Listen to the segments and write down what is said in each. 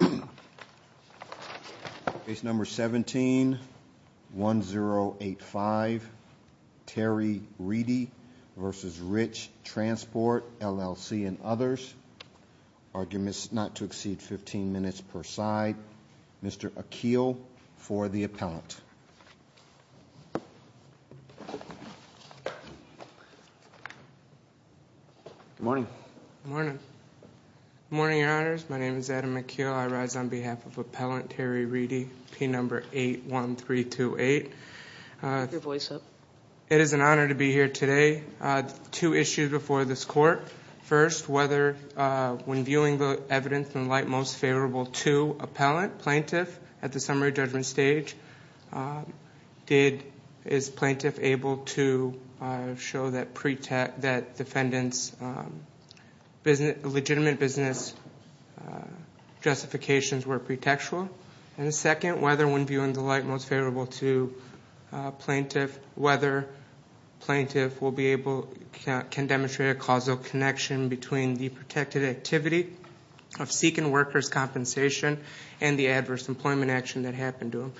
and others. Arguments not to exceed 15 minutes per side. Mr. Akeel for the appellant. Good morning. Good morning. Good morning, your honors. My name is Adam Akeel. I rise on behalf of appellant Terry Reedy, P number 81328. It is an honor to be here today. Two issues before this court. First, whether when viewing the evidence in light most favorable to appellant, plaintiff, at the summary judgment stage, is plaintiff able to show that defendant's legitimate business justifications were pretextual? And second, whether when viewing the light most favorable to plaintiff, whether plaintiff will be able, can demonstrate a causal connection between the protected activity of seeking workers' compensation and the adverse employment action that happened to him.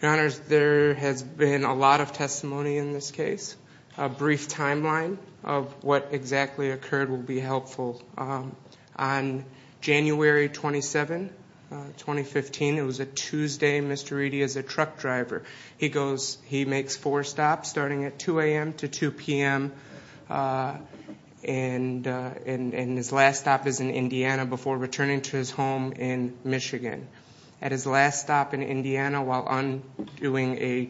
Your honors, there has been a lot of testimony in this case. A brief timeline of what exactly occurred will be helpful. On January 27, 2015, it was a Tuesday, Mr. Reedy is a truck driver. He makes four stops, starting at 2 a.m. to 2 p.m., and his last stop is in Indiana before returning to his home in Michigan. At his last stop in Indiana while undoing a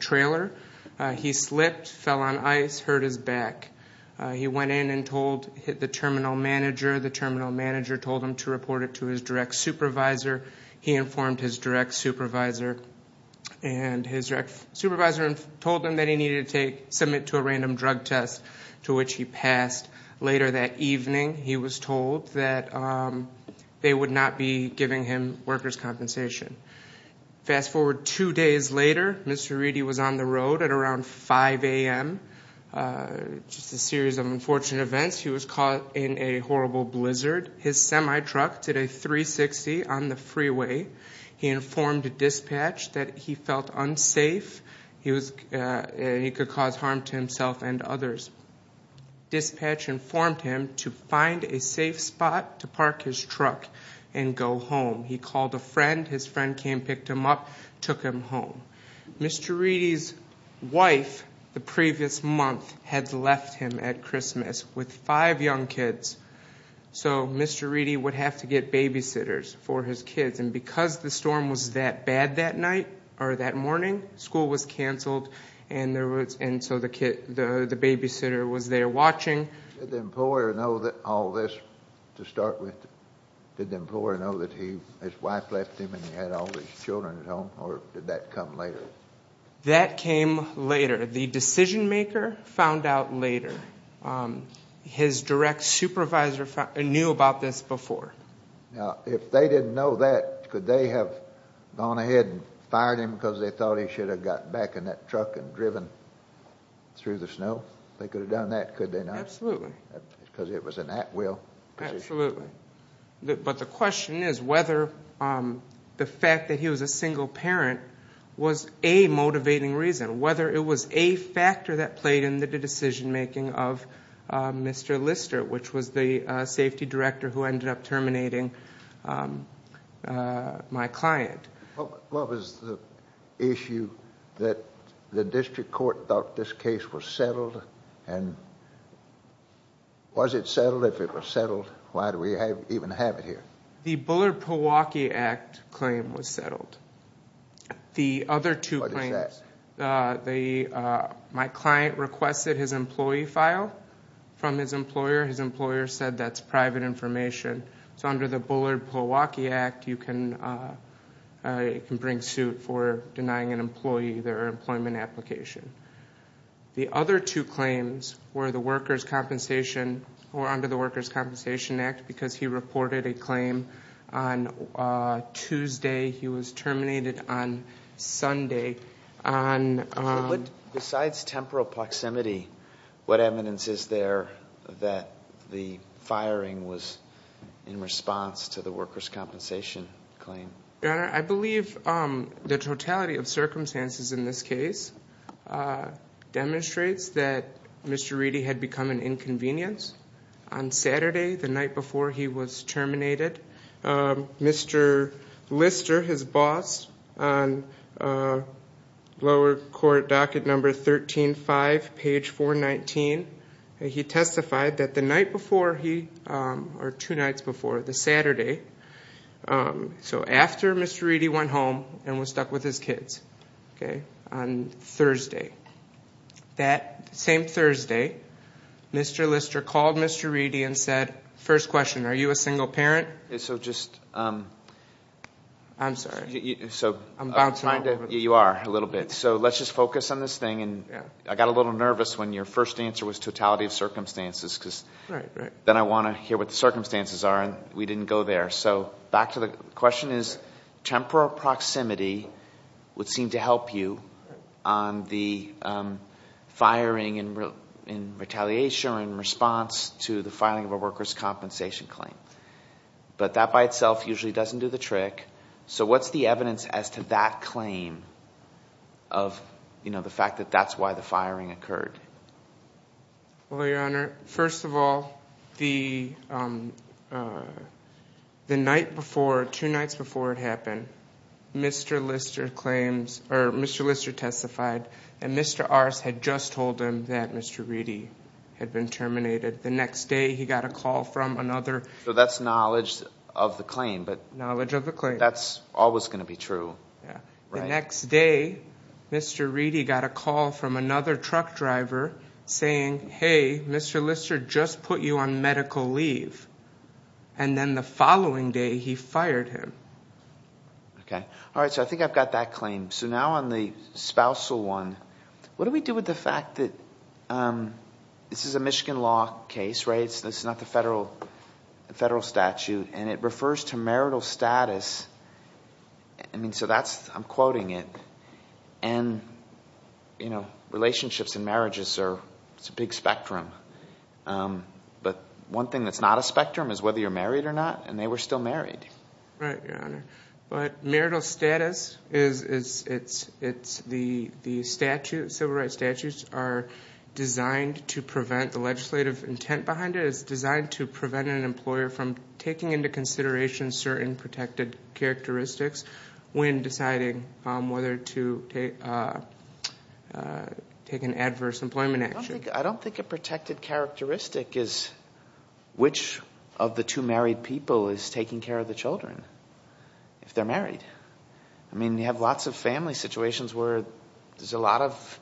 trailer, he slipped, fell on ice, hurt his back. He went in and hit the terminal manager. The terminal manager told him to report it to his direct supervisor. He informed his direct supervisor, and his direct supervisor told him that he needed to submit to a random drug test, to which he passed. Later that evening, he was told that they would not be giving him workers' compensation. Fast forward two days later, Mr. Reedy was on the road at around 5 a.m. Just a series of unfortunate events. He was caught in a horrible blizzard. His semi-truck did a 360 on the freeway. He informed dispatch that he felt unsafe. He could cause harm to himself and others. Dispatch informed him to find a safe spot to park his truck and go home. He called a friend. His friend came, picked him up, took him home. Mr. Reedy's wife, the previous month, had left him at Christmas with five young kids. So Mr. Reedy would have to get babysitters for his kids, and because the storm was that bad that night, or that morning, school was canceled, and so the babysitter was there watching. Did the employer know all this to start with? Did the employer know that his wife left him and he had all his children at home, or did that come later? That came later. The decision-maker found out later. His direct supervisor knew about this before. Now, if they didn't know that, could they have gone ahead and fired him because they thought he should have gotten back in that truck and driven through the snow? They could have done that, could they not? Absolutely. Because it was an at-will position. But the question is whether the fact that he was a single parent was a motivating reason, whether it was a factor that played in the decision-making of Mr. Lister, which was the safety director who ended up terminating my client. What was the issue that the district court thought this case was settled, and was it settled? If it was settled, why do we even have it here? The Bullard-Pilwaukee Act claim was settled. What is that? My client requested his employee file from his employer. His employer said that's private information. So under the Bullard-Pilwaukee Act, you can bring suit for denying an employee their employment application. The other two claims were under the Workers' Compensation Act because he reported a claim on Tuesday. He was terminated on Sunday. Besides temporal proximity, what evidence is there that the firing was in response to the Workers' Compensation claim? Your Honor, I believe the totality of circumstances in this case demonstrates that Mr. Reedy had become an inconvenience on Saturday, the night before he was terminated. Mr. Lister, his boss, on lower court docket number 13-5, page 419, he testified that the night before he, or two nights before, the Saturday, So after Mr. Reedy went home and was stuck with his kids on Thursday, that same Thursday, Mr. Lister called Mr. Reedy and said, First question, are you a single parent? I'm sorry. I'm bouncing off. You are, a little bit. So let's just focus on this thing. I got a little nervous when your first answer was totality of circumstances. Then I want to hear what the circumstances are, and we didn't go there. So back to the question is, temporal proximity would seem to help you on the firing in retaliation or in response to the filing of a workers' compensation claim. But that by itself usually doesn't do the trick. So what's the evidence as to that claim of the fact that that's why the firing occurred? Well, Your Honor, first of all, the night before, two nights before it happened, Mr. Lister claims, or Mr. Lister testified that Mr. Arce had just told him that Mr. Reedy had been terminated. The next day he got a call from another. So that's knowledge of the claim. Knowledge of the claim. That's always going to be true. The next day, Mr. Reedy got a call from another truck driver saying, hey, Mr. Lister just put you on medical leave. And then the following day he fired him. Okay. All right. So I think I've got that claim. So now on the spousal one, what do we do with the fact that this is a Michigan law case, right? This is not the federal statute, and it refers to marital status. I mean, so that's, I'm quoting it. And, you know, relationships and marriages are, it's a big spectrum. But one thing that's not a spectrum is whether you're married or not, and they were still married. Right, Your Honor. But marital status is, it's the statute, civil rights statutes are designed to prevent the legislative intent behind it. It's designed to prevent an employer from taking into consideration certain protected characteristics when deciding whether to take an adverse employment action. I don't think a protected characteristic is which of the two married people is taking care of the children if they're married. I mean, you have lots of family situations where there's a lot of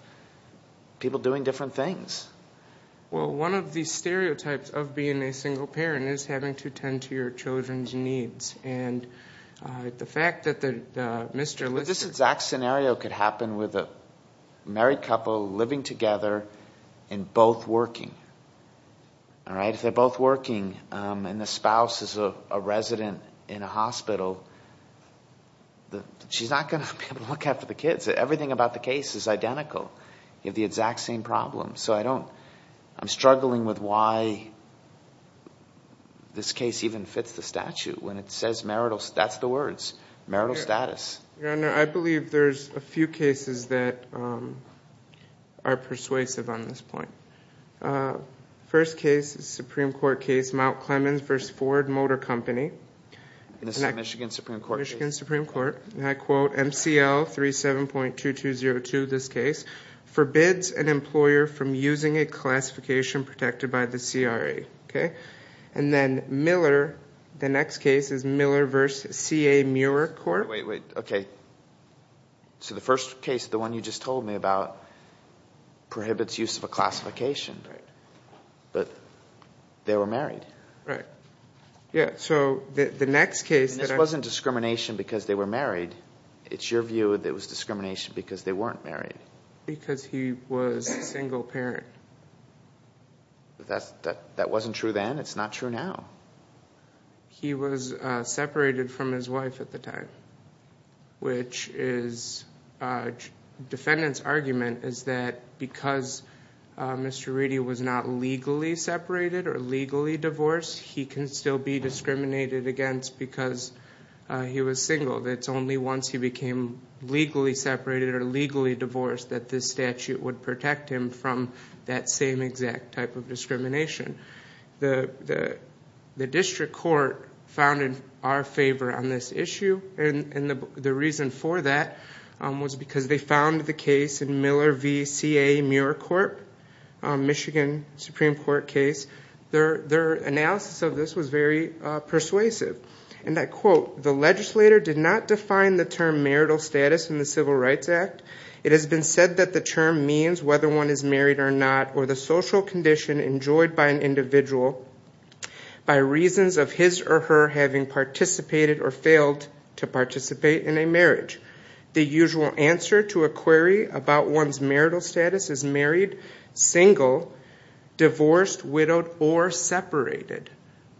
people doing different things. Well, one of the stereotypes of being a single parent is having to tend to your children's needs. But this exact scenario could happen with a married couple living together and both working, all right? If they're both working and the spouse is a resident in a hospital, she's not going to be able to look after the kids. Everything about the case is identical. You have the exact same problem. So I don't, I'm struggling with why this case even fits the statute when it says marital, that's the words, marital status. Your Honor, I believe there's a few cases that are persuasive on this point. First case is a Supreme Court case, Mount Clemens v. Ford Motor Company. This is a Michigan Supreme Court case. Michigan Supreme Court. And I quote MCL 37.2202, this case, forbids an employer from using a classification protected by the CRA. Okay? And then Miller, the next case is Miller v. C.A. Muir Court. Wait, wait, okay. So the first case, the one you just told me about, prohibits use of a classification. Right. But they were married. Right. Yeah, so the next case that I... It wasn't discrimination because they were married. It's your view that it was discrimination because they weren't married. Because he was a single parent. That wasn't true then. It's not true now. He was separated from his wife at the time. Which is, defendant's argument is that because Mr. Reedy was not legally separated or legally divorced, he can still be discriminated against because he was single. It's only once he became legally separated or legally divorced that this statute would protect him from that same exact type of discrimination. The district court found in our favor on this issue, and the reason for that was because they found the case in Miller v. C.A. Muir Court, Michigan Supreme Court case. Their analysis of this was very persuasive. And I quote, The legislator did not define the term marital status in the Civil Rights Act. It has been said that the term means whether one is married or not, or the social condition enjoyed by an individual by reasons of his or her having participated or failed to participate in a marriage. The usual answer to a query about one's marital status is married, single, divorced, widowed, or separated.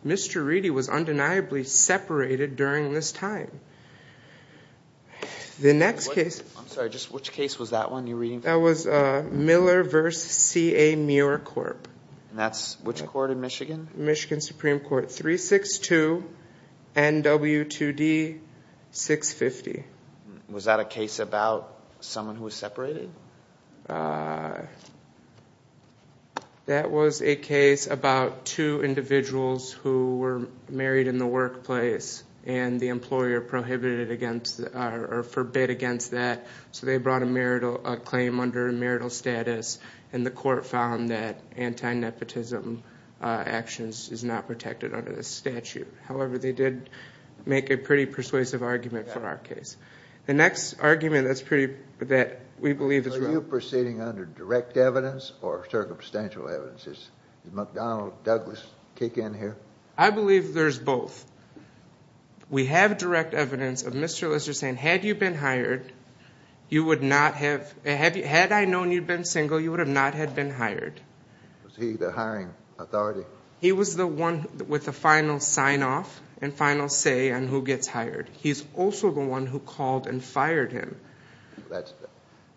Mr. Reedy was undeniably separated during this time. The next case... I'm sorry, just which case was that one you're reading from? That was Miller v. C.A. Muir Court. And that's which court in Michigan? Michigan Supreme Court, 362 NW2D 650. Was that a case about someone who was separated? That was a case about two individuals who were married in the workplace, and the employer prohibited or forbade against that. So they brought a claim under marital status, and the court found that anti-nepotism actions is not protected under this statute. However, they did make a pretty persuasive argument for our case. The next argument that we believe is wrong. Are you proceeding under direct evidence or circumstantial evidence? Does McDonnell, Douglas kick in here? I believe there's both. We have direct evidence of Mr. Lizard saying, had I known you'd been single, you would have not had been hired. Was he the hiring authority? He was the one with the final sign-off and final say on who gets hired. He's also the one who called and fired him.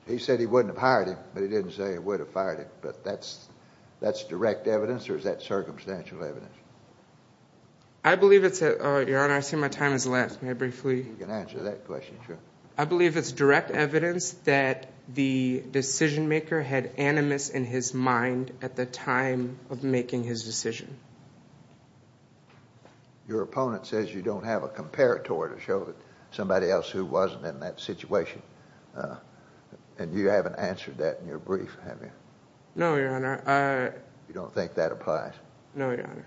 He said he wouldn't have hired him, but he didn't say he would have fired him. But that's direct evidence, or is that circumstantial evidence? Your Honor, I see my time has left. May I briefly? You can answer that question, sure. I believe it's direct evidence that the decision-maker had animus in his mind at the time of making his decision. Your opponent says you don't have a comparator to show somebody else who wasn't in that situation, and you haven't answered that in your brief, have you? No, Your Honor. You don't think that applies? No, Your Honor.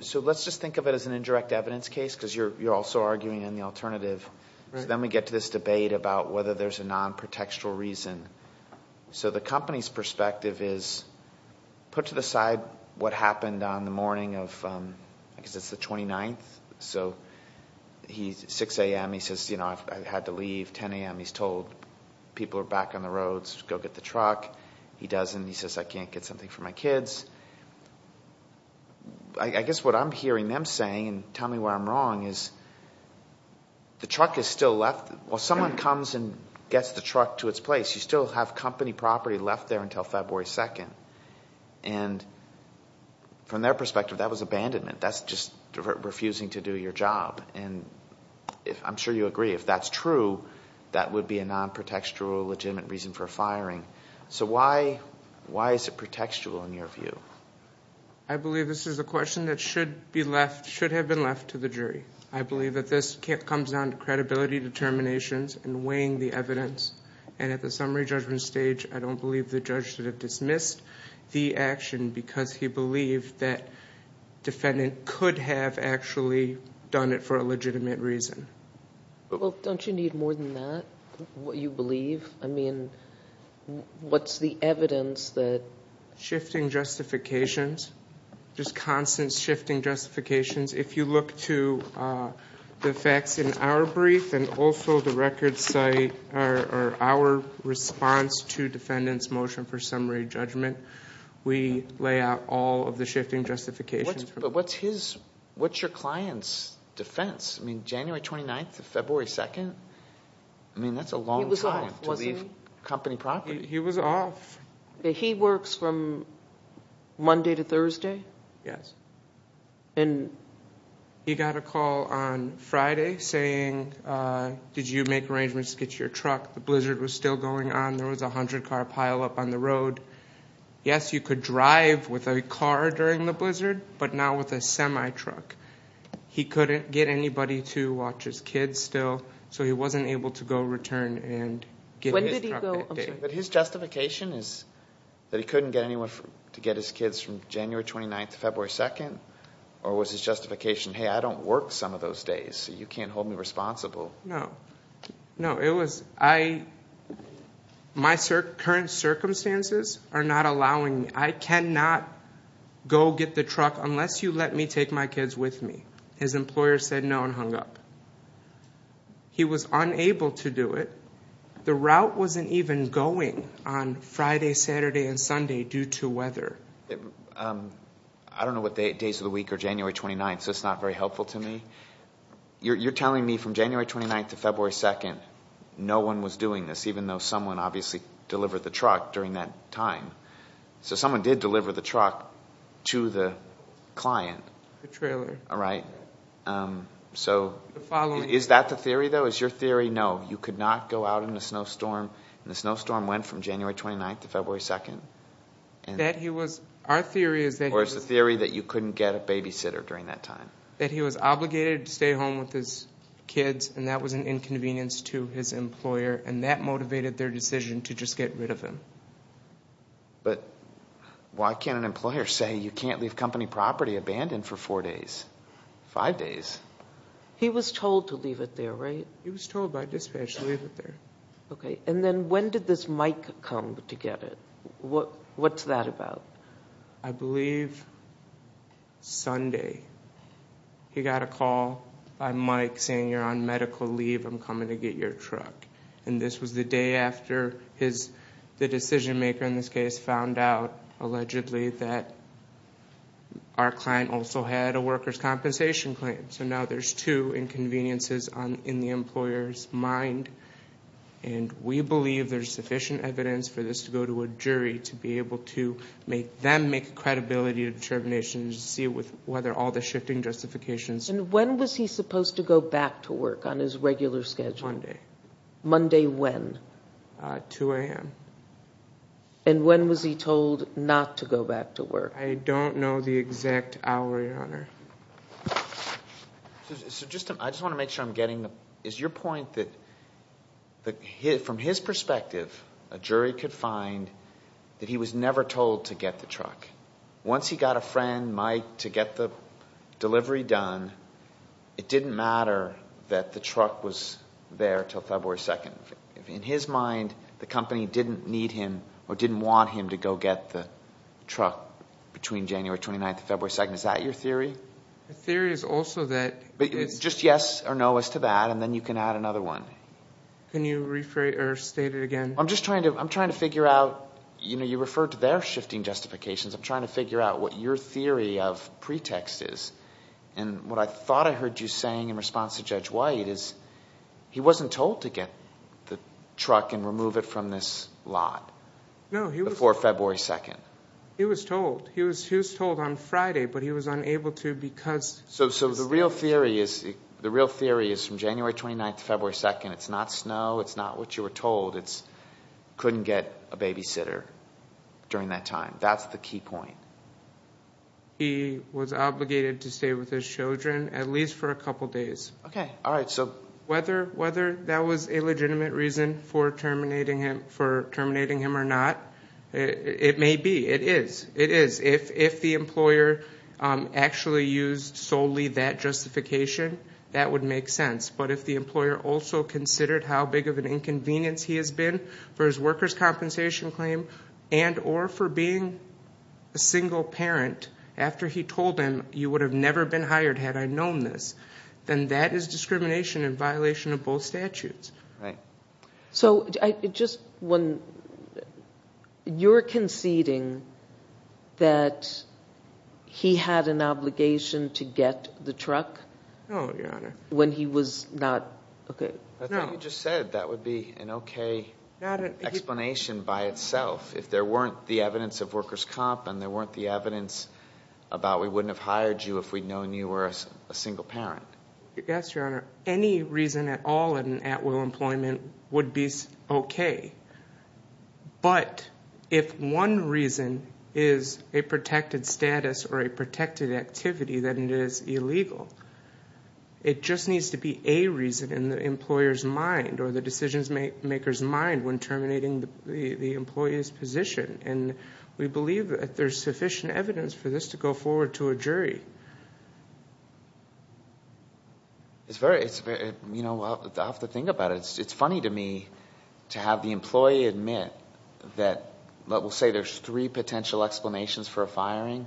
So let's just think of it as an indirect evidence case because you're also arguing in the alternative. Then we get to this debate about whether there's a non-protextual reason. So the company's perspective is put to the side what happened on the morning of, I guess it's the 29th. So 6 a.m., he says, you know, I had to leave. 10 a.m., he's told people are back on the roads to go get the truck. He doesn't. He says, I can't get something for my kids. I guess what I'm hearing them saying, and tell me where I'm wrong, is the truck is still left. Well, someone comes and gets the truck to its place. You still have company property left there until February 2nd. And from their perspective, that was abandonment. That's just refusing to do your job. And I'm sure you agree, if that's true, that would be a non-protextual legitimate reason for firing. So why is it protextual in your view? I believe this is a question that should have been left to the jury. I believe that this comes down to credibility determinations and weighing the evidence. And at the summary judgment stage, I don't believe the judge should have dismissed the action because he believed that defendant could have actually done it for a legitimate reason. Well, don't you need more than that? What you believe? I mean, what's the evidence that? Shifting justifications. Just constant shifting justifications. If you look to the facts in our brief and also the record site, our response to defendant's motion for summary judgment, we lay out all of the shifting justifications. But what's your client's defense? I mean, January 29th to February 2nd? I mean, that's a long time to leave company property. He was off. He works from Monday to Thursday? Yes. And he got a call on Friday saying, did you make arrangements to get your truck? The blizzard was still going on. There was a hundred car pileup on the road. Yes, you could drive with a car during the blizzard, but not with a semi truck. He couldn't get anybody to watch his kids still, so he wasn't able to go return and get his truck. Or was his justification, hey, I don't work some of those days, so you can't hold me responsible? No. No, it was my current circumstances are not allowing me. I cannot go get the truck unless you let me take my kids with me. His employer said no and hung up. He was unable to do it. The route wasn't even going on Friday, Saturday, and Sunday due to weather. I don't know what days of the week are January 29th, so it's not very helpful to me. You're telling me from January 29th to February 2nd, no one was doing this, even though someone obviously delivered the truck during that time. So someone did deliver the truck to the client. The trailer. All right. So is that the theory, though? Is your theory no? You could not go out in a snowstorm, and the snowstorm went from January 29th to February 2nd? Our theory is that he was— Or is the theory that you couldn't get a babysitter during that time? That he was obligated to stay home with his kids, and that was an inconvenience to his employer, and that motivated their decision to just get rid of him. But why can't an employer say you can't leave company property abandoned for four days, five days? He was told to leave it there, right? He was told by dispatch to leave it there. Okay. And then when did this mic come to get it? What's that about? I believe Sunday he got a call by mic saying you're on medical leave, I'm coming to get your truck. And this was the day after the decision maker in this case found out, allegedly, that our client also had a worker's compensation claim. So now there's two inconveniences in the employer's mind. And we believe there's sufficient evidence for this to go to a jury to be able to make them make a credibility determination to see whether all the shifting justifications— And when was he supposed to go back to work on his regular schedule? Monday. Monday when? 2 a.m. And when was he told not to go back to work? I don't know the exact hour, Your Honor. I just want to make sure I'm getting—is your point that from his perspective, a jury could find that he was never told to get the truck? Once he got a friend, Mike, to get the delivery done, it didn't matter that the truck was there until February 2nd. In his mind, the company didn't need him or didn't want him to go get the truck between January 29th and February 2nd. Is that your theory? The theory is also that— Just yes or no as to that, and then you can add another one. Can you state it again? I'm just trying to figure out—you referred to their shifting justifications. I'm trying to figure out what your theory of pretext is. What I thought I heard you saying in response to Judge White is he wasn't told to get the truck and remove it from this lot before February 2nd. He was told. He was told on Friday, but he was unable to because— So the real theory is from January 29th to February 2nd, it's not snow, it's not what you were told, it's couldn't get a babysitter during that time. That's the key point. He was obligated to stay with his children at least for a couple days. Whether that was a legitimate reason for terminating him or not, it may be. It is. If the employer actually used solely that justification, that would make sense. But if the employer also considered how big of an inconvenience he has been for his workers' compensation claim and or for being a single parent after he told him, you would have never been hired had I known this, then that is discrimination in violation of both statutes. Right. So you're conceding that he had an obligation to get the truck when he was not— I think you just said that would be an okay explanation by itself if there weren't the evidence of workers' comp and there weren't the evidence about we wouldn't have hired you if we'd known you were a single parent. Yes, Your Honor. Any reason at all in an at-will employment would be okay. But if one reason is a protected status or a protected activity, then it is illegal. It just needs to be a reason in the employer's mind or the decision-maker's mind when terminating the employee's position. We believe that there's sufficient evidence for this to go forward to a jury. It's very—I'll have to think about it. It's funny to me to have the employee admit that—we'll say there's three potential explanations for a firing.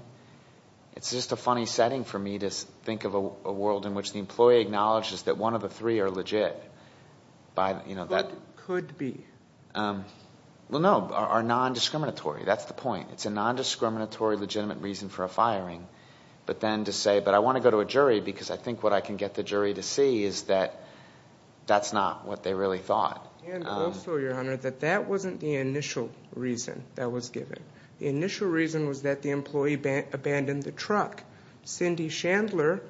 It's just a funny setting for me to think of a world in which the employee acknowledges that one of the three are legit. But could be. Well, no, are nondiscriminatory. That's the point. But then to say, but I want to go to a jury because I think what I can get the jury to see is that that's not what they really thought. And also, Your Honor, that that wasn't the initial reason that was given. The initial reason was that the employee abandoned the truck. Cindy Chandler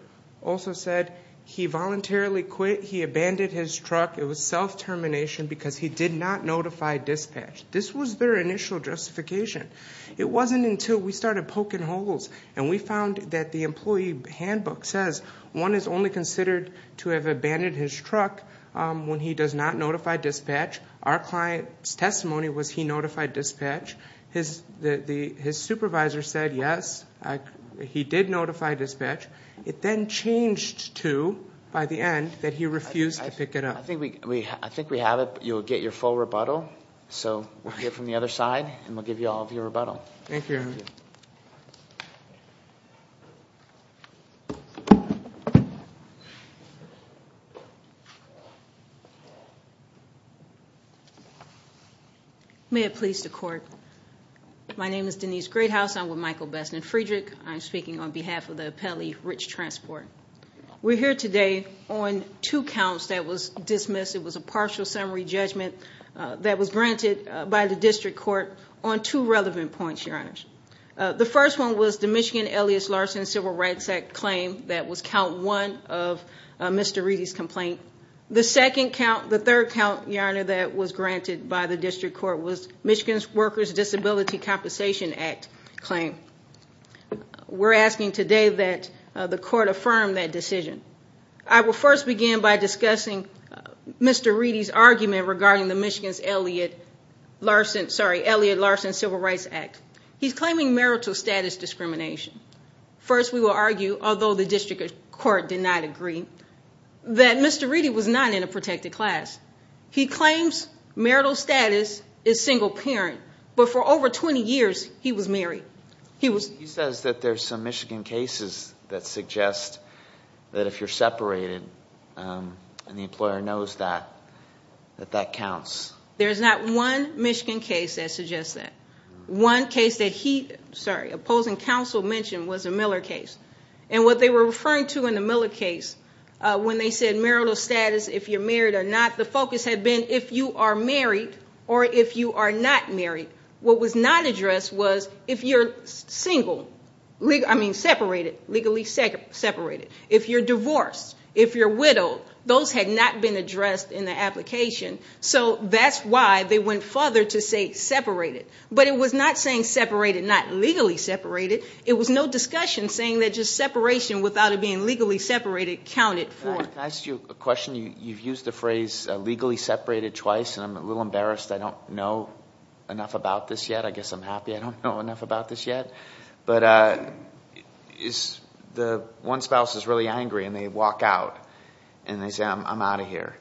also said he voluntarily quit. He abandoned his truck. It was self-termination because he did not notify dispatch. This was their initial justification. It wasn't until we started poking holes and we found that the employee handbook says one is only considered to have abandoned his truck when he does not notify dispatch. Our client's testimony was he notified dispatch. His supervisor said, yes, he did notify dispatch. It then changed to, by the end, that he refused to pick it up. I think we have it. You'll get your full rebuttal. So we'll get from the other side and we'll give you all of your rebuttal. Thank you, Your Honor. May it please the court. My name is Denise Greathouse. I'm with Michael Best and Friedrich. I'm speaking on behalf of the appellee, Rich Transport. We're here today on two counts that was dismissed. It was a partial summary judgment that was granted by the district court on two relevant points, Your Honors. The first one was the Michigan Elias Larson Civil Rights Act claim that was count one of Mr. Reedy's complaint. The second count, the third count, Your Honor, that was granted by the district court was Michigan's Workers' Disability Compensation Act claim. We're asking today that the court affirm that decision. I will first begin by discussing Mr. Reedy's argument regarding the Michigan's Elliot Larson Civil Rights Act. He's claiming marital status discrimination. First, we will argue, although the district court did not agree, that Mr. Reedy was not in a protected class. He claims marital status is single parent, but for over 20 years, he was married. He says that there's some Michigan cases that suggest that if you're separated and the employer knows that, that that counts. There's not one Michigan case that suggests that. One case that he, sorry, opposing counsel mentioned was a Miller case. And what they were referring to in the Miller case, when they said marital status, if you're married or not, the focus had been if you are married or if you are not married. What was not addressed was if you're single, I mean separated, legally separated. If you're divorced, if you're widowed, those had not been addressed in the application. So that's why they went further to say separated. But it was not saying separated, not legally separated. It was no discussion saying that just separation without it being legally separated counted for. Can I ask you a question? You've used the phrase legally separated twice, and I'm a little embarrassed. I don't know enough about this yet. I guess I'm happy I don't know enough about this yet. But is the one spouse is really angry and they walk out and they say, I'm out of here.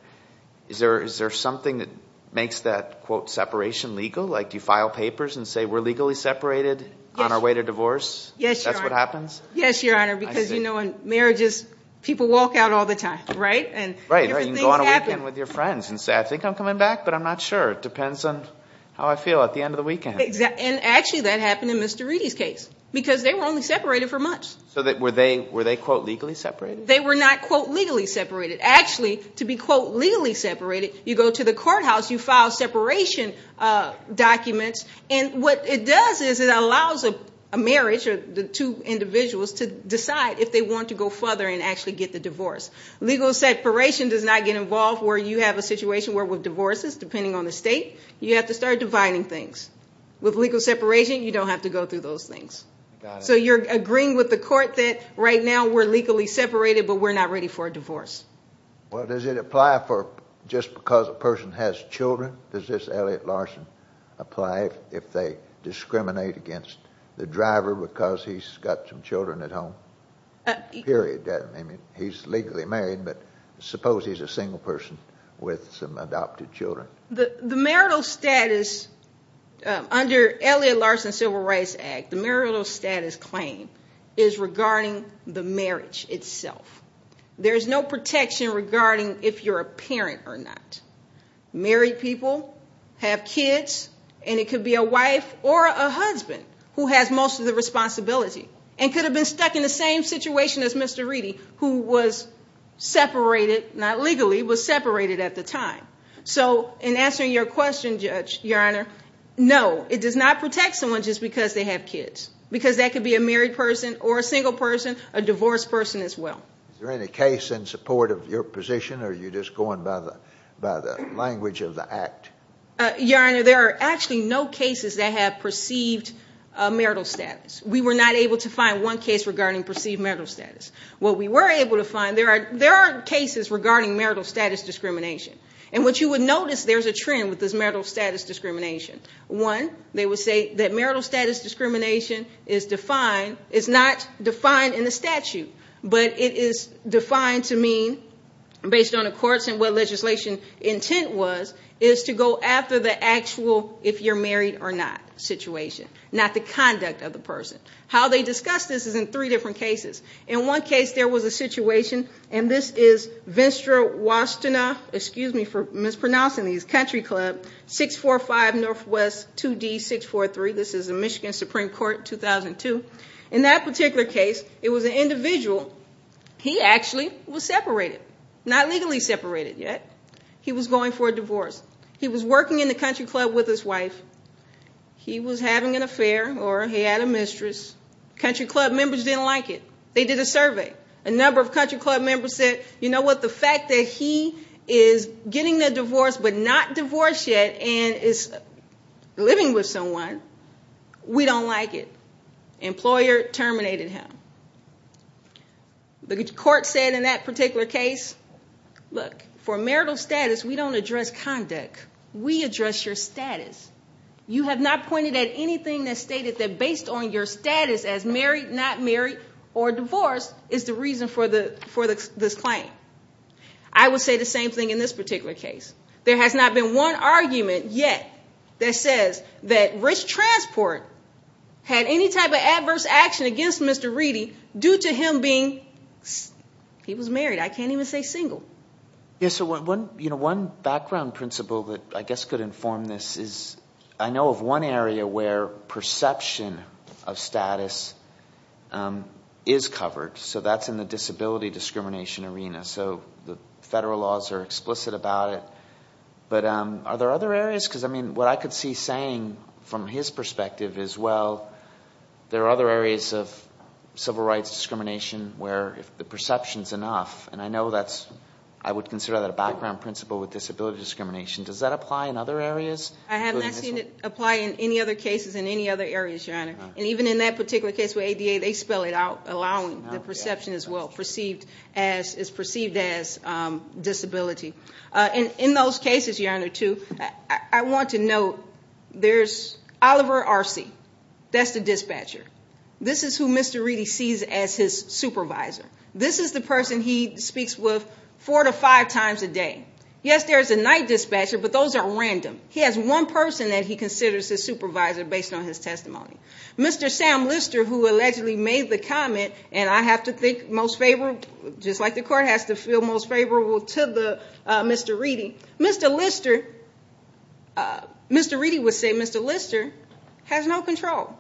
Is there something that makes that, quote, separation legal? Like do you file papers and say we're legally separated on our way to divorce? Yes, Your Honor. That's what happens? Yes, Your Honor, because, you know, in marriages, people walk out all the time, right? Right. You can go on a weekend with your friends and say, I think I'm coming back, but I'm not sure. It depends on how I feel at the end of the weekend. And actually that happened in Mr. Reedy's case because they were only separated for months. So were they, quote, legally separated? They were not, quote, legally separated. Actually, to be, quote, legally separated, you go to the courthouse, you file separation documents, and what it does is it allows a marriage or the two individuals to decide if they want to go further and actually get the divorce. Legal separation does not get involved where you have a situation where with divorces, depending on the state, you have to start dividing things. With legal separation, you don't have to go through those things. So you're agreeing with the court that right now we're legally separated, but we're not ready for a divorce. Well, does it apply for just because a person has children? Does this Elliot Larson apply if they discriminate against the driver because he's got some children at home? Period. I mean, he's legally married, but suppose he's a single person with some adopted children. The marital status under Elliot Larson's Civil Rights Act, the marital status claim is regarding the marriage itself. There's no protection regarding if you're a parent or not. Married people have kids, and it could be a wife or a husband who has most of the responsibility and could have been stuck in the same situation as Mr. Reedy, who was separated, not legally, was separated at the time. So in answering your question, Judge, Your Honor, no, it does not protect someone just because they have kids because that could be a married person or a single person, a divorced person as well. Is there any case in support of your position, or are you just going by the language of the Act? Your Honor, there are actually no cases that have perceived marital status. We were not able to find one case regarding perceived marital status. What we were able to find, there are cases regarding marital status discrimination. And what you would notice, there's a trend with this marital status discrimination. One, they would say that marital status discrimination is defined, is not defined in the statute, but it is defined to mean, based on the courts and what legislation intent was, is to go after the actual if you're married or not situation, not the conduct of the person. How they discuss this is in three different cases. In one case, there was a situation, and this is Venstra-Washtenaw, excuse me for mispronouncing these, Country Club, 645 Northwest 2D 643. This is the Michigan Supreme Court, 2002. In that particular case, it was an individual. He actually was separated, not legally separated yet. He was going for a divorce. He was working in the Country Club with his wife. He was having an affair, or he had a mistress. Country Club members didn't like it. They did a survey. A number of Country Club members said, you know what, the fact that he is getting a divorce but not divorced yet and is living with someone, we don't like it. Employer terminated him. The court said in that particular case, look, for marital status, we don't address conduct. We address your status. You have not pointed at anything that stated that based on your status as married, not married, or divorced, is the reason for this claim. I would say the same thing in this particular case. There has not been one argument yet that says that Rich Transport had any type of adverse action against Mr. Reedy due to him being, he was married, I can't even say single. Yes, so one background principle that I guess could inform this is I know of one area where perception of status is covered. So that's in the disability discrimination arena. So the federal laws are explicit about it. But are there other areas? Because, I mean, what I could see saying from his perspective is, well, there are other areas of civil rights discrimination where the perception is enough. And I know that's, I would consider that a background principle with disability discrimination. Does that apply in other areas? I have not seen it apply in any other cases in any other areas, Your Honor. And even in that particular case with ADA, they spell it out, allowing the perception as well, is perceived as disability. And in those cases, Your Honor, too, I want to note there's Oliver Arce. That's the dispatcher. This is who Mr. Reedy sees as his supervisor. This is the person he speaks with four to five times a day. Yes, there is a night dispatcher, but those are random. He has one person that he considers his supervisor based on his testimony. Mr. Sam Lister, who allegedly made the comment, and I have to think most favorable, just like the court has to feel most favorable to Mr. Reedy. Mr. Reedy would say Mr. Lister has no control.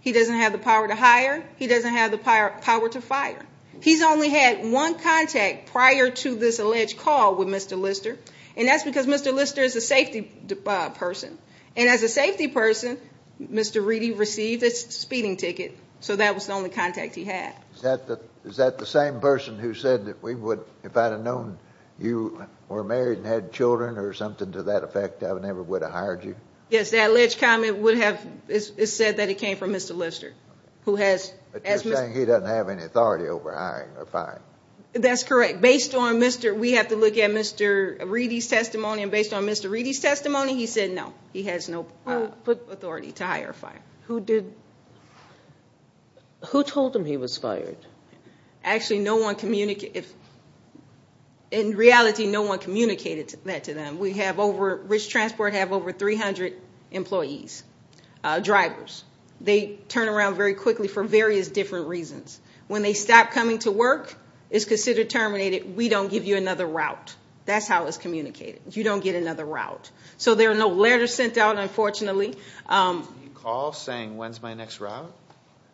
He doesn't have the power to hire. He doesn't have the power to fire. He's only had one contact prior to this alleged call with Mr. Lister, and that's because Mr. Lister is a safety person. And as a safety person, Mr. Reedy received a speeding ticket, so that was the only contact he had. Is that the same person who said that if I had known you were married and had children or something to that effect, I never would have hired you? Yes, the alleged comment would have said that it came from Mr. Lister. But you're saying he doesn't have any authority over hiring or firing. That's correct. We have to look at Mr. Reedy's testimony, and based on Mr. Reedy's testimony, he said no. He has no authority to hire or fire. Who told him he was fired? Actually, no one communicated. In reality, no one communicated that to them. We have over 300 employees, drivers. They turn around very quickly for various different reasons. When they stop coming to work, it's considered terminated. We don't give you another route. That's how it's communicated. You don't get another route. So there are no letters sent out, unfortunately. Did he call saying, when's my next route?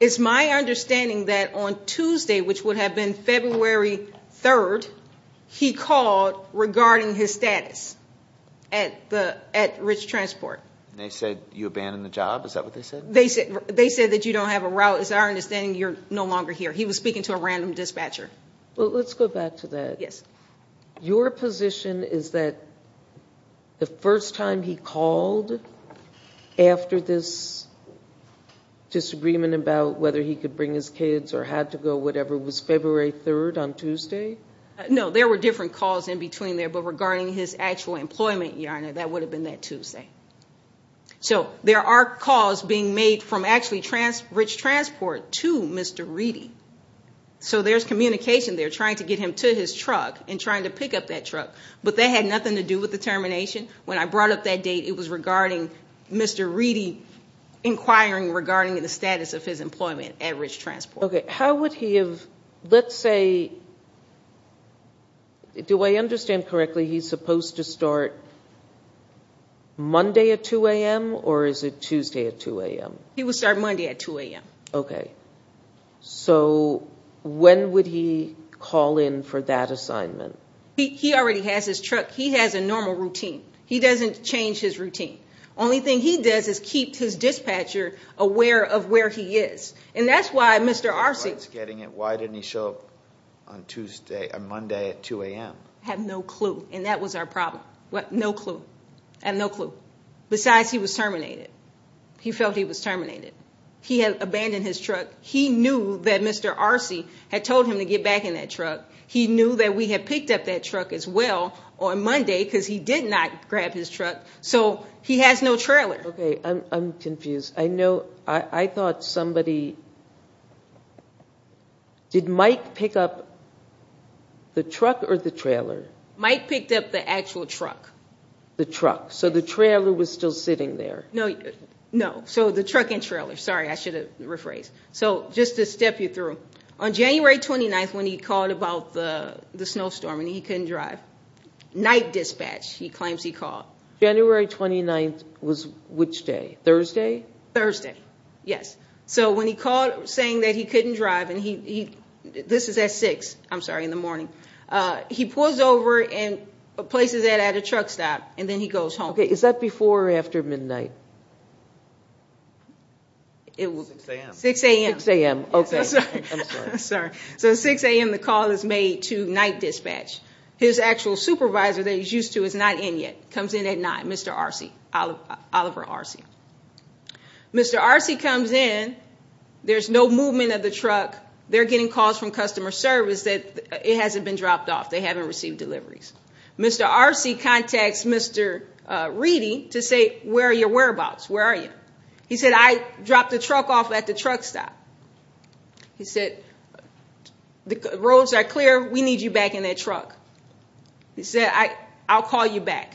It's my understanding that on Tuesday, which would have been February 3rd, he called regarding his status at Rich Transport. And they said you abandoned the job? Is that what they said? They said that you don't have a route. It's our understanding you're no longer here. He was speaking to a random dispatcher. Well, let's go back to that. Yes. Your position is that the first time he called after this disagreement about whether he could bring his kids or had to go, whatever, was February 3rd on Tuesday? No, there were different calls in between there. But regarding his actual employment, Your Honor, that would have been that Tuesday. So there are calls being made from actually Rich Transport to Mr. Reedy. So there's communication there trying to get him to his truck and trying to pick up that truck. But that had nothing to do with the termination. When I brought up that date, it was regarding Mr. Reedy inquiring regarding the status of his employment at Rich Transport. Okay. How would he have, let's say, do I understand correctly he's supposed to start Monday at 2 a.m., or is it Tuesday at 2 a.m.? He would start Monday at 2 a.m. Okay. So when would he call in for that assignment? He already has his truck. He has a normal routine. He doesn't change his routine. Only thing he does is keep his dispatcher aware of where he is. And that's why Mr. Arcey Why didn't he show up on Monday at 2 a.m.? I have no clue, and that was our problem. No clue. I have no clue. Besides, he was terminated. He felt he was terminated. He had abandoned his truck. He knew that Mr. Arcey had told him to get back in that truck. He knew that we had picked up that truck as well on Monday because he did not grab his truck. So he has no trailer. Okay. I'm confused. I thought somebody did Mike pick up the truck or the trailer? Mike picked up the actual truck. The truck. So the trailer was still sitting there. No. So the truck and trailer. Sorry, I should have rephrased. So just to step you through, on January 29th when he called about the snowstorm and he couldn't drive, night dispatch, he claims he called. January 29th was which day? Thursday? Thursday, yes. So when he called saying that he couldn't drive, and this is at 6, I'm sorry, in the morning. He pulls over and places that at a truck stop, and then he goes home. Okay. Is that before or after midnight? 6 a.m. 6 a.m. 6 a.m., okay. I'm sorry. I'm sorry. So at 6 a.m. the call is made to night dispatch. His actual supervisor that he's used to is not in yet. Comes in at 9, Mr. Arce, Oliver Arce. Mr. Arce comes in. There's no movement of the truck. They're getting calls from customer service that it hasn't been dropped off. They haven't received deliveries. Mr. Arce contacts Mr. Reedy to say, where are your whereabouts? Where are you? He said, I dropped the truck off at the truck stop. He said, the roads are clear. We need you back in that truck. He said, I'll call you back.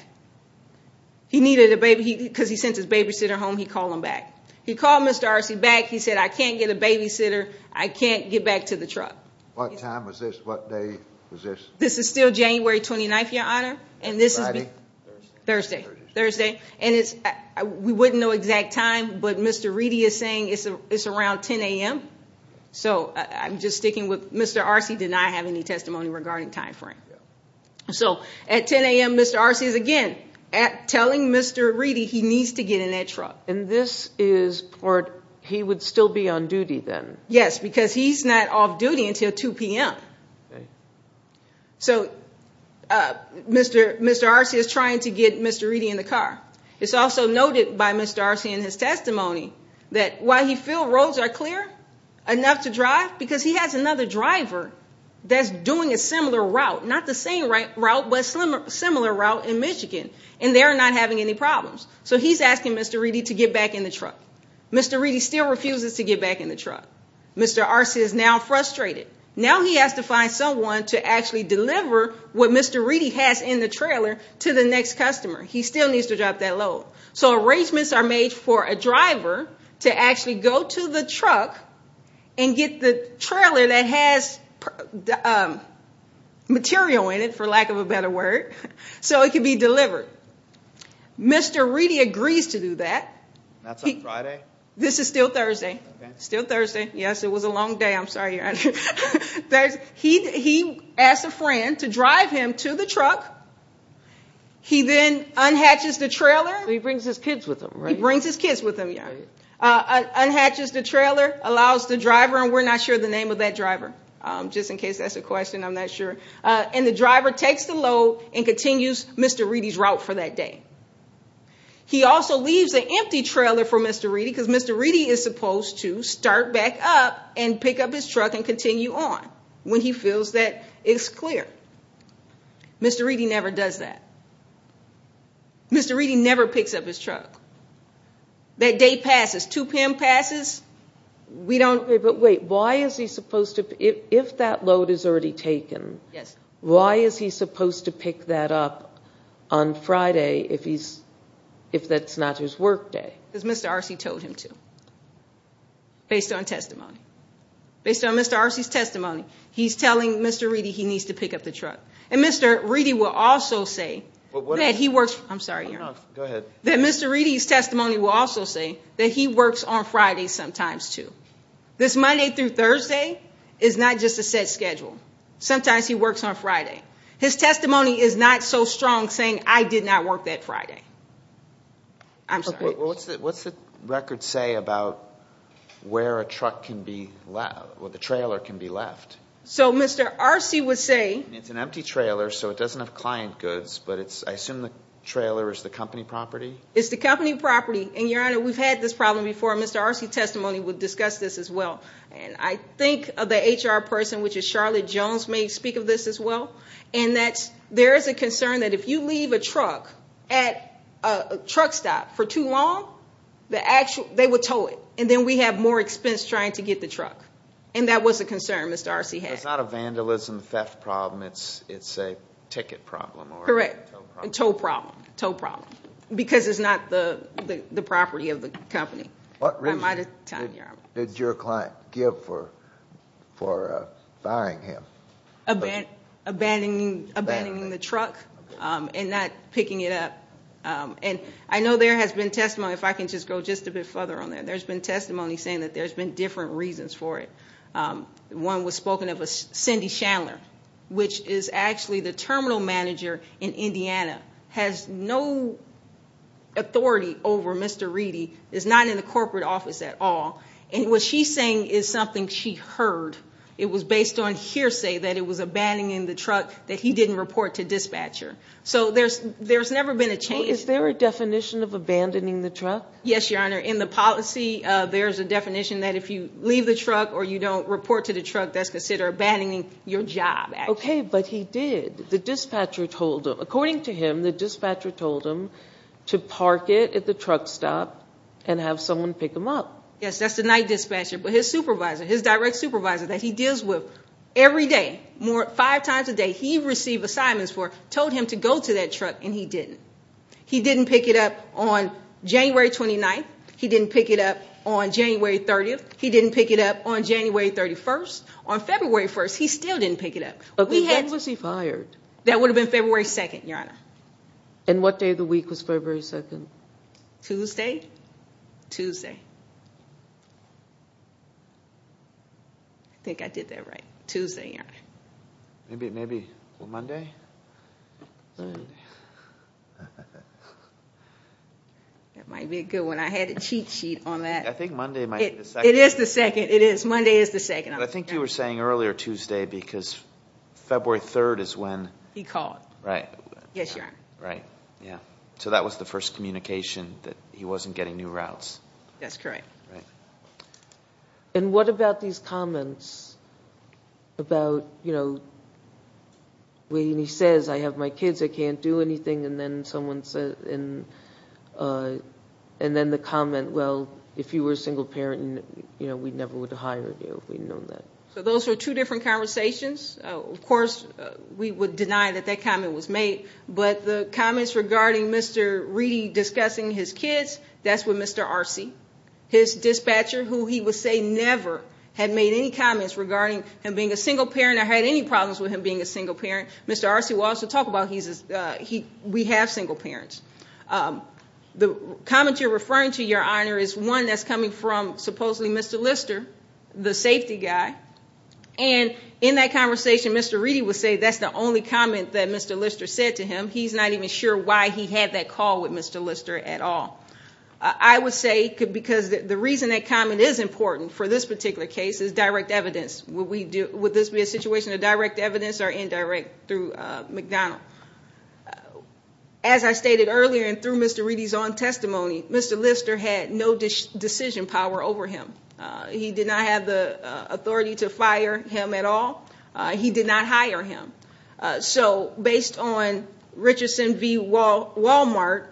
He needed a baby because he sent his babysitter home. He called him back. He called Mr. Arce back. He said, I can't get a babysitter. I can't get back to the truck. What time was this? What day was this? This is still January 29th, Your Honor. And this is? Thursday. Thursday. We wouldn't know exact time, but Mr. Reedy is saying it's around 10 a.m. So I'm just sticking with Mr. Arce did not have any testimony regarding time frame. So at 10 a.m., Mr. Arce is, again, telling Mr. Reedy he needs to get in that truck. And this is, or he would still be on duty then? Yes, because he's not off duty until 2 p.m. So Mr. Arce is trying to get Mr. Reedy in the car. It's also noted by Mr. Arce in his testimony that while he feels roads are clear enough to drive, because he has another driver that's doing a similar route, not the same route, but a similar route in Michigan, and they're not having any problems. So he's asking Mr. Reedy to get back in the truck. Mr. Reedy still refuses to get back in the truck. Mr. Arce is now frustrated. Now he has to find someone to actually deliver what Mr. Reedy has in the trailer to the next customer. He still needs to drop that load. So arrangements are made for a driver to actually go to the truck and get the trailer that has material in it, for lack of a better word, so it can be delivered. Mr. Reedy agrees to do that. That's on Friday? This is still Thursday. Okay. Still Thursday. Yes, it was a long day. I'm sorry, Your Honor. He asks a friend to drive him to the truck. He then unhatches the trailer. So he brings his kids with him, right? He brings his kids with him, yeah. Unhatches the trailer, allows the driver, and we're not sure the name of that driver, just in case that's a question. I'm not sure. And the driver takes the load and continues Mr. Reedy's route for that day. He also leaves an empty trailer for Mr. Reedy because Mr. Reedy is supposed to start back up and pick up his truck and continue on when he feels that it's clear. Mr. Reedy never does that. Mr. Reedy never picks up his truck. That day passes. Two PIM passes. We don't know. But wait, why is he supposed to – if that load is already taken, why is he supposed to pick that up on Friday if that's not his work day? Because Mr. Arce told him to, based on testimony. Based on Mr. Arce's testimony, he's telling Mr. Reedy he needs to pick up the truck. And Mr. Reedy will also say that he works – I'm sorry, Your Honor. Go ahead. That Mr. Reedy's testimony will also say that he works on Fridays sometimes, too. This Monday through Thursday is not just a set schedule. Sometimes he works on Friday. His testimony is not so strong saying, I did not work that Friday. I'm sorry. What's the record say about where a truck can be – where the trailer can be left? So Mr. Arce would say – It's an empty trailer, so it doesn't have client goods, but I assume the trailer is the company property? It's the company property. And, Your Honor, we've had this problem before. Mr. Arce's testimony would discuss this as well. And I think the HR person, which is Charlotte Jones, may speak of this as well, and that there is a concern that if you leave a truck at a truck stop for too long, they would tow it, and then we have more expense trying to get the truck. And that was a concern Mr. Arce had. It's not a vandalism theft problem. It's a ticket problem or a tow problem. Correct. A tow problem. Tow problem. Because it's not the property of the company. What reason did your client give for firing him? Abandoning the truck and not picking it up. And I know there has been testimony, if I can just go just a bit further on that, there's been testimony saying that there's been different reasons for it. One was spoken of, Cindy Chandler, which is actually the terminal manager in Indiana, has no authority over Mr. Reedy, is not in the corporate office at all. And what she's saying is something she heard. It was based on hearsay that it was abandoning the truck, that he didn't report to dispatcher. So there's never been a change. Is there a definition of abandoning the truck? Yes, Your Honor. In the policy, there's a definition that if you leave the truck or you don't report to the truck, that's considered abandoning your job. Okay, but he did. According to him, the dispatcher told him to park it at the truck stop and have someone pick him up. Yes, that's the night dispatcher. But his supervisor, his direct supervisor that he deals with every day, five times a day, he received assignments for, told him to go to that truck, and he didn't. He didn't pick it up on January 29th. He didn't pick it up on January 30th. He didn't pick it up on January 31st. On February 1st, he still didn't pick it up. When was he fired? That would have been February 2nd, Your Honor. And what day of the week was February 2nd? Tuesday. Tuesday. I think I did that right. Tuesday, Your Honor. Maybe Monday? That might be a good one. I had a cheat sheet on that. I think Monday might be the second. It is the second. It is. Monday is the second. I think you were saying earlier Tuesday because February 3rd is when. He called. Right. Yes, Your Honor. Right. Yeah. So that was the first communication that he wasn't getting new routes. That's correct. Right. And what about these comments about, you know, when he says, I have my kids, I can't do anything, and then someone says, and then the comment, well, if you were a single parent, you know, we never would have hired you if we'd known that. So those are two different conversations. Of course, we would deny that that comment was made. But the comments regarding Mr. Reedy discussing his kids, that's with Mr. Arce. His dispatcher, who he would say never had made any comments regarding him being a single parent or had any problems with him being a single parent. Mr. Arce will also talk about we have single parents. The comment you're referring to, Your Honor, is one that's coming from supposedly Mr. Lister, the safety guy. And in that conversation, Mr. Reedy would say that's the only comment that Mr. Lister said to him. He's not even sure why he had that call with Mr. Lister at all. I would say because the reason that comment is important for this particular case is direct evidence. Would this be a situation of direct evidence or indirect through McDonald? Now, as I stated earlier and through Mr. Reedy's own testimony, Mr. Lister had no decision power over him. He did not have the authority to fire him at all. He did not hire him. So based on Richardson v. Walmart,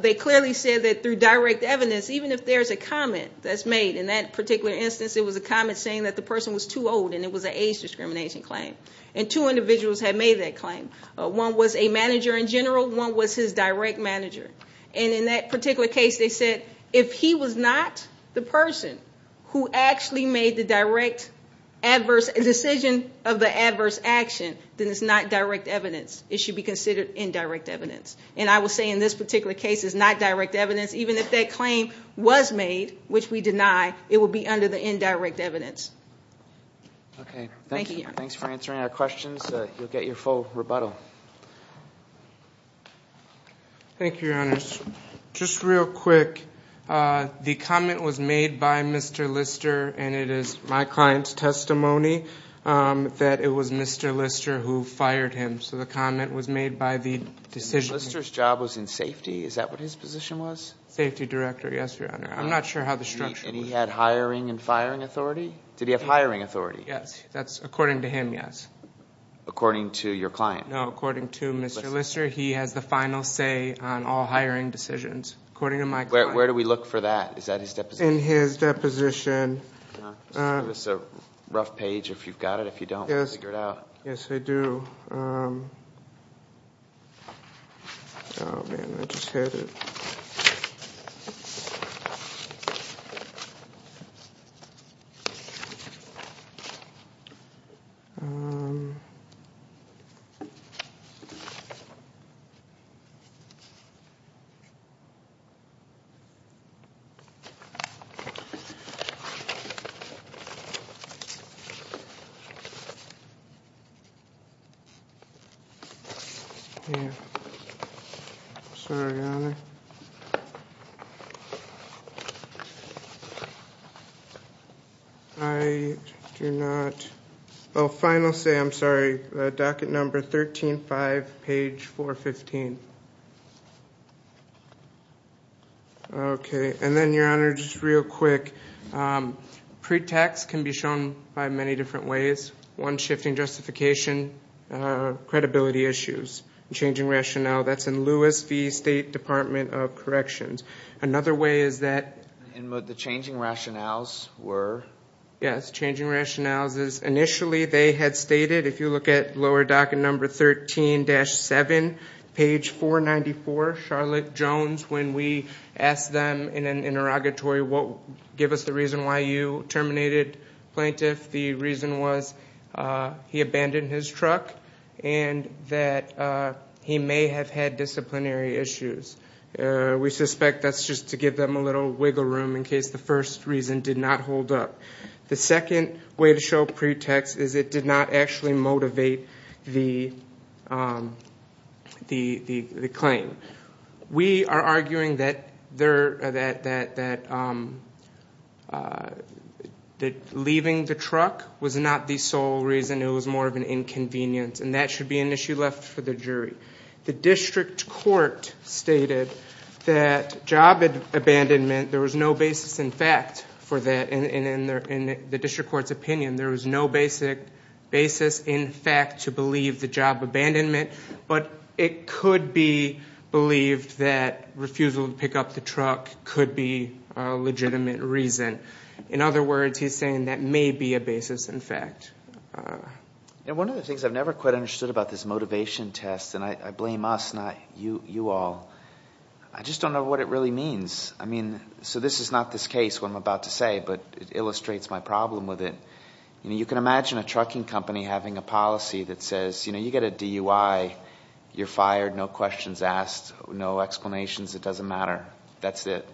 they clearly said that through direct evidence, even if there's a comment that's made, in that particular instance, it was a comment saying that the person was too old and it was an age discrimination claim. And two individuals had made that claim. One was a manager in general. One was his direct manager. And in that particular case, they said if he was not the person who actually made the direct adverse decision of the adverse action, then it's not direct evidence. It should be considered indirect evidence. And I will say in this particular case, it's not direct evidence. Even if that claim was made, which we deny, it would be under the indirect evidence. Okay. Thanks for answering our questions. You'll get your full rebuttal. Thank you, Your Honors. Just real quick, the comment was made by Mr. Lister, and it is my client's testimony that it was Mr. Lister who fired him. So the comment was made by the decision. Mr. Lister's job was in safety? Is that what his position was? Safety director, yes, Your Honor. I'm not sure how the structure was. And he had hiring and firing authority? Did he have hiring authority? Yes. That's according to him, yes. According to your client? No, according to Mr. Lister, he has the final say on all hiring decisions. According to my client. Where do we look for that? Is that his deposition? In his deposition. Just give us a rough page if you've got it. If you don't, we'll figure it out. Yes, I do. Oh, man, I just had it. Okay. I do not. Oh, final say, I'm sorry. Docket number 13-5, page 415. Okay. And then, Your Honor, just real quick, pretext can be shown by many different ways. One, shifting justification, credibility issues, changing rationale. That's in Lewis v. State Department of Corrections. Another way is that the changing rationales were? Yes, changing rationales. Initially, they had stated, if you look at lower docket number 13-7, page 494, Charlotte Jones, when we asked them in an interrogatory, give us the reason why you terminated plaintiff, the reason was he abandoned his truck and that he may have had disciplinary issues. We suspect that's just to give them a little wiggle room in case the first reason did not hold up. The second way to show pretext is it did not actually motivate the claim. We are arguing that leaving the truck was not the sole reason. It was more of an inconvenience, and that should be an issue left for the jury. The district court stated that job abandonment, there was no basis in fact for that. In the district court's opinion, there was no basic basis in fact to believe the job abandonment, but it could be believed that refusal to pick up the truck could be a legitimate reason. In other words, he's saying that may be a basis in fact. One of the things I've never quite understood about this motivation test, and I blame us, not you all, I just don't know what it really means. This is not this case what I'm about to say, but it illustrates my problem with it. You can imagine a trucking company having a policy that says you get a DUI, you're fired, no questions asked, no explanations, it doesn't matter, that's it.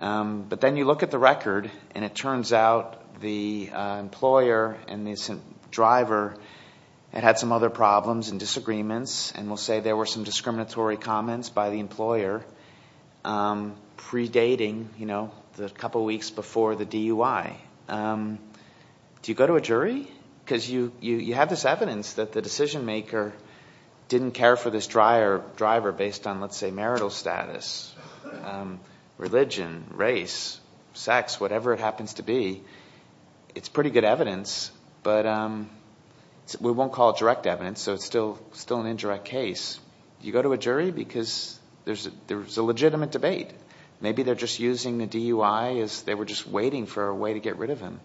But then you look at the record, and it turns out the employer and the driver had had some other problems and disagreements, and we'll say there were some discriminatory comments by the employer predating the couple weeks before the DUI. Do you go to a jury? Because you have this evidence that the decision maker didn't care for this driver based on, let's say, marital status, religion, race, sex, whatever it happens to be. It's pretty good evidence, but we won't call it direct evidence, so it's still an indirect case. Do you go to a jury? Because there's a legitimate debate. Maybe they're just using the DUI as they were just waiting for a way to get rid of him.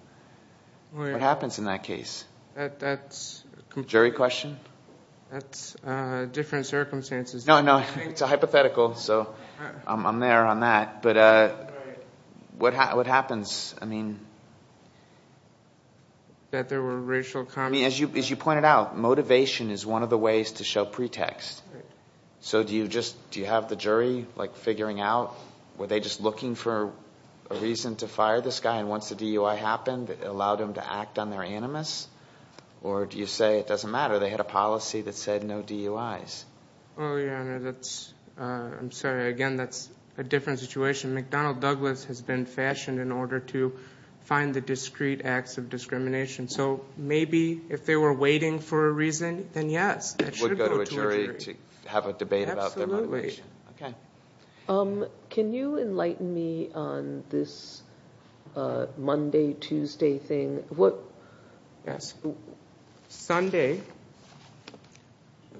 What happens in that case? That's... Jury question? That's different circumstances. No, no, it's a hypothetical, so I'm there on that. But what happens? That there were racial comments. As you pointed out, motivation is one of the ways to show pretext. So do you have the jury figuring out, were they just looking for a reason to fire this guy, and once the DUI happened, it allowed him to act on their animus? Or do you say it doesn't matter, they had a policy that said no DUIs? Oh, your Honor, I'm sorry. Again, that's a different situation. McDonnell Douglas has been fashioned in order to find the discrete acts of discrimination. So maybe if they were waiting for a reason, then yes, that should go to a jury. Would go to a jury to have a debate about their motivation. Absolutely. Can you enlighten me on this Monday-Tuesday thing? Yes. Sunday,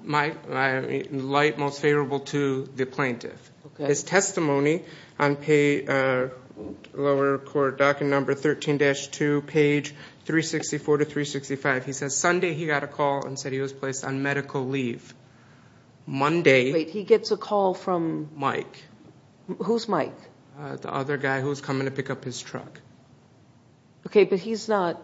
light most favorable to the plaintiff. His testimony on lower court docket number 13-2, page 364-365, he says Sunday he got a call and said he was placed on medical leave. Wait, he gets a call from? Mike. Who's Mike? The other guy who was coming to pick up his truck. Okay, but he's not...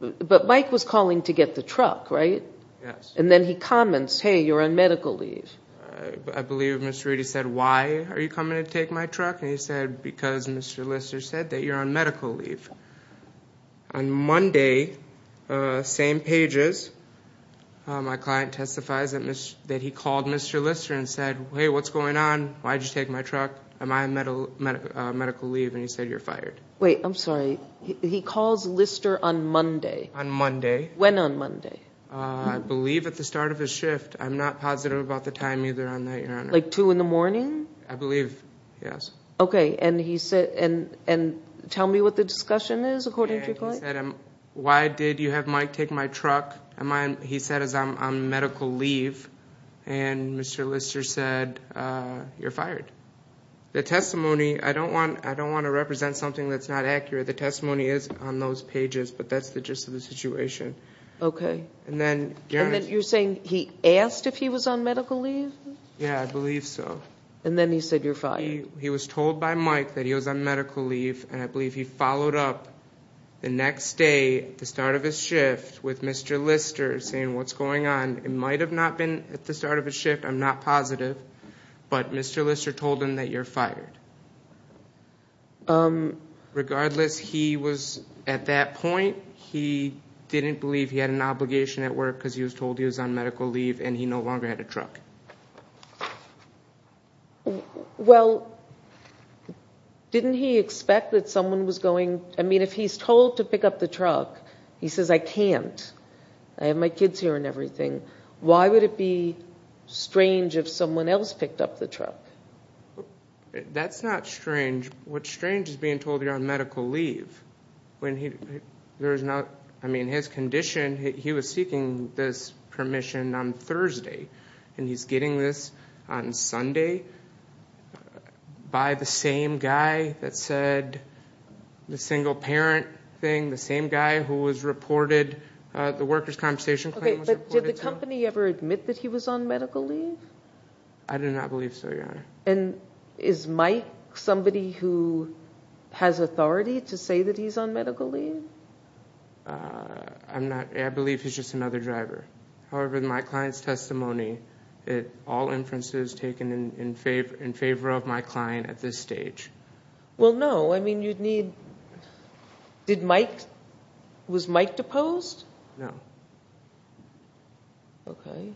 But Mike was calling to get the truck, right? Yes. And then he comments, hey, you're on medical leave. I believe Mr. Reedy said, why are you coming to take my truck? And he said, because Mr. Lister said that you're on medical leave. On Monday, same pages, my client testifies that he called Mr. Lister and said, hey, what's going on? Why did you take my truck? Am I on medical leave? And he said, you're fired. Wait, I'm sorry. He calls Lister on Monday? On Monday. When on Monday? I believe at the start of his shift. I'm not positive about the time either on that, Your Honor. Like 2 in the morning? I believe, yes. Okay, and tell me what the discussion is according to your client? He said, why did you have Mike take my truck? He said, I'm on medical leave. And Mr. Lister said, you're fired. The testimony, I don't want to represent something that's not accurate. The testimony is on those pages, but that's the gist of the situation. Okay. And then, Your Honor. And then you're saying he asked if he was on medical leave? Yeah, I believe so. And then he said, you're fired. He was told by Mike that he was on medical leave, and I believe he followed up the next day at the start of his shift with Mr. Lister saying, what's going on? It might have not been at the start of his shift. I'm not positive. But Mr. Lister told him that you're fired. Regardless, he was, at that point, he didn't believe he had an obligation at work because he was told he was on medical leave and he no longer had a truck. Well, didn't he expect that someone was going, I mean, if he's told to pick up the truck, he says, I can't. I have my kids here and everything. Why would it be strange if someone else picked up the truck? That's not strange. What's strange is being told you're on medical leave. I mean, his condition, he was seeking this permission on Thursday, and he's getting this on Sunday by the same guy that said the single parent thing, the same guy who was reported, the worker's compensation claim. Did the company ever admit that he was on medical leave? I do not believe so, Your Honor. And is Mike somebody who has authority to say that he's on medical leave? I believe he's just another driver. However, in my client's testimony, all inferences taken in favor of my client at this stage. Well, no. I mean, you'd need, did Mike, was Mike deposed? No. Okay.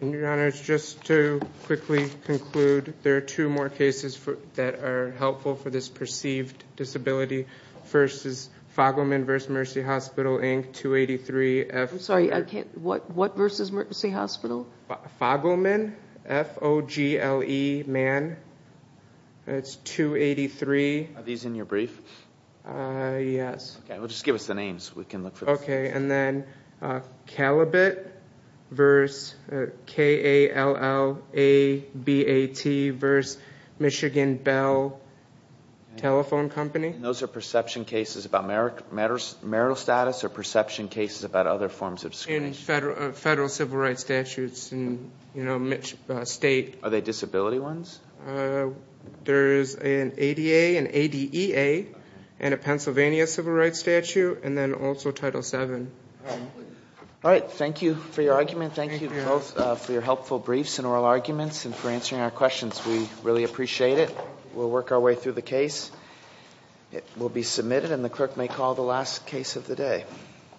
And, Your Honor, just to quickly conclude, there are two more cases that are helpful for this perceived disability. First is Fogelman v. Mercy Hospital, Inc., 283 F- I'm sorry, I can't, what versus Mercy Hospital? Fogelman, F-O-G-L-E-man. That's 283. Are these in your brief? Yes. Okay, well, just give us the names so we can look for them. Okay, and then Calibet v. K-A-L-L-A-B-A-T v. Michigan Bell Telephone Company. And those are perception cases about marital status or perception cases about other forms of discrimination? Federal civil rights statutes and, you know, state. Are they disability ones? There is an ADA, an ADEA, and a Pennsylvania civil rights statute, and then also Title VII. All right, thank you for your argument. Thank you both for your helpful briefs and oral arguments and for answering our questions. We really appreciate it. We'll work our way through the case. It will be submitted, and the clerk may call the last case of the day.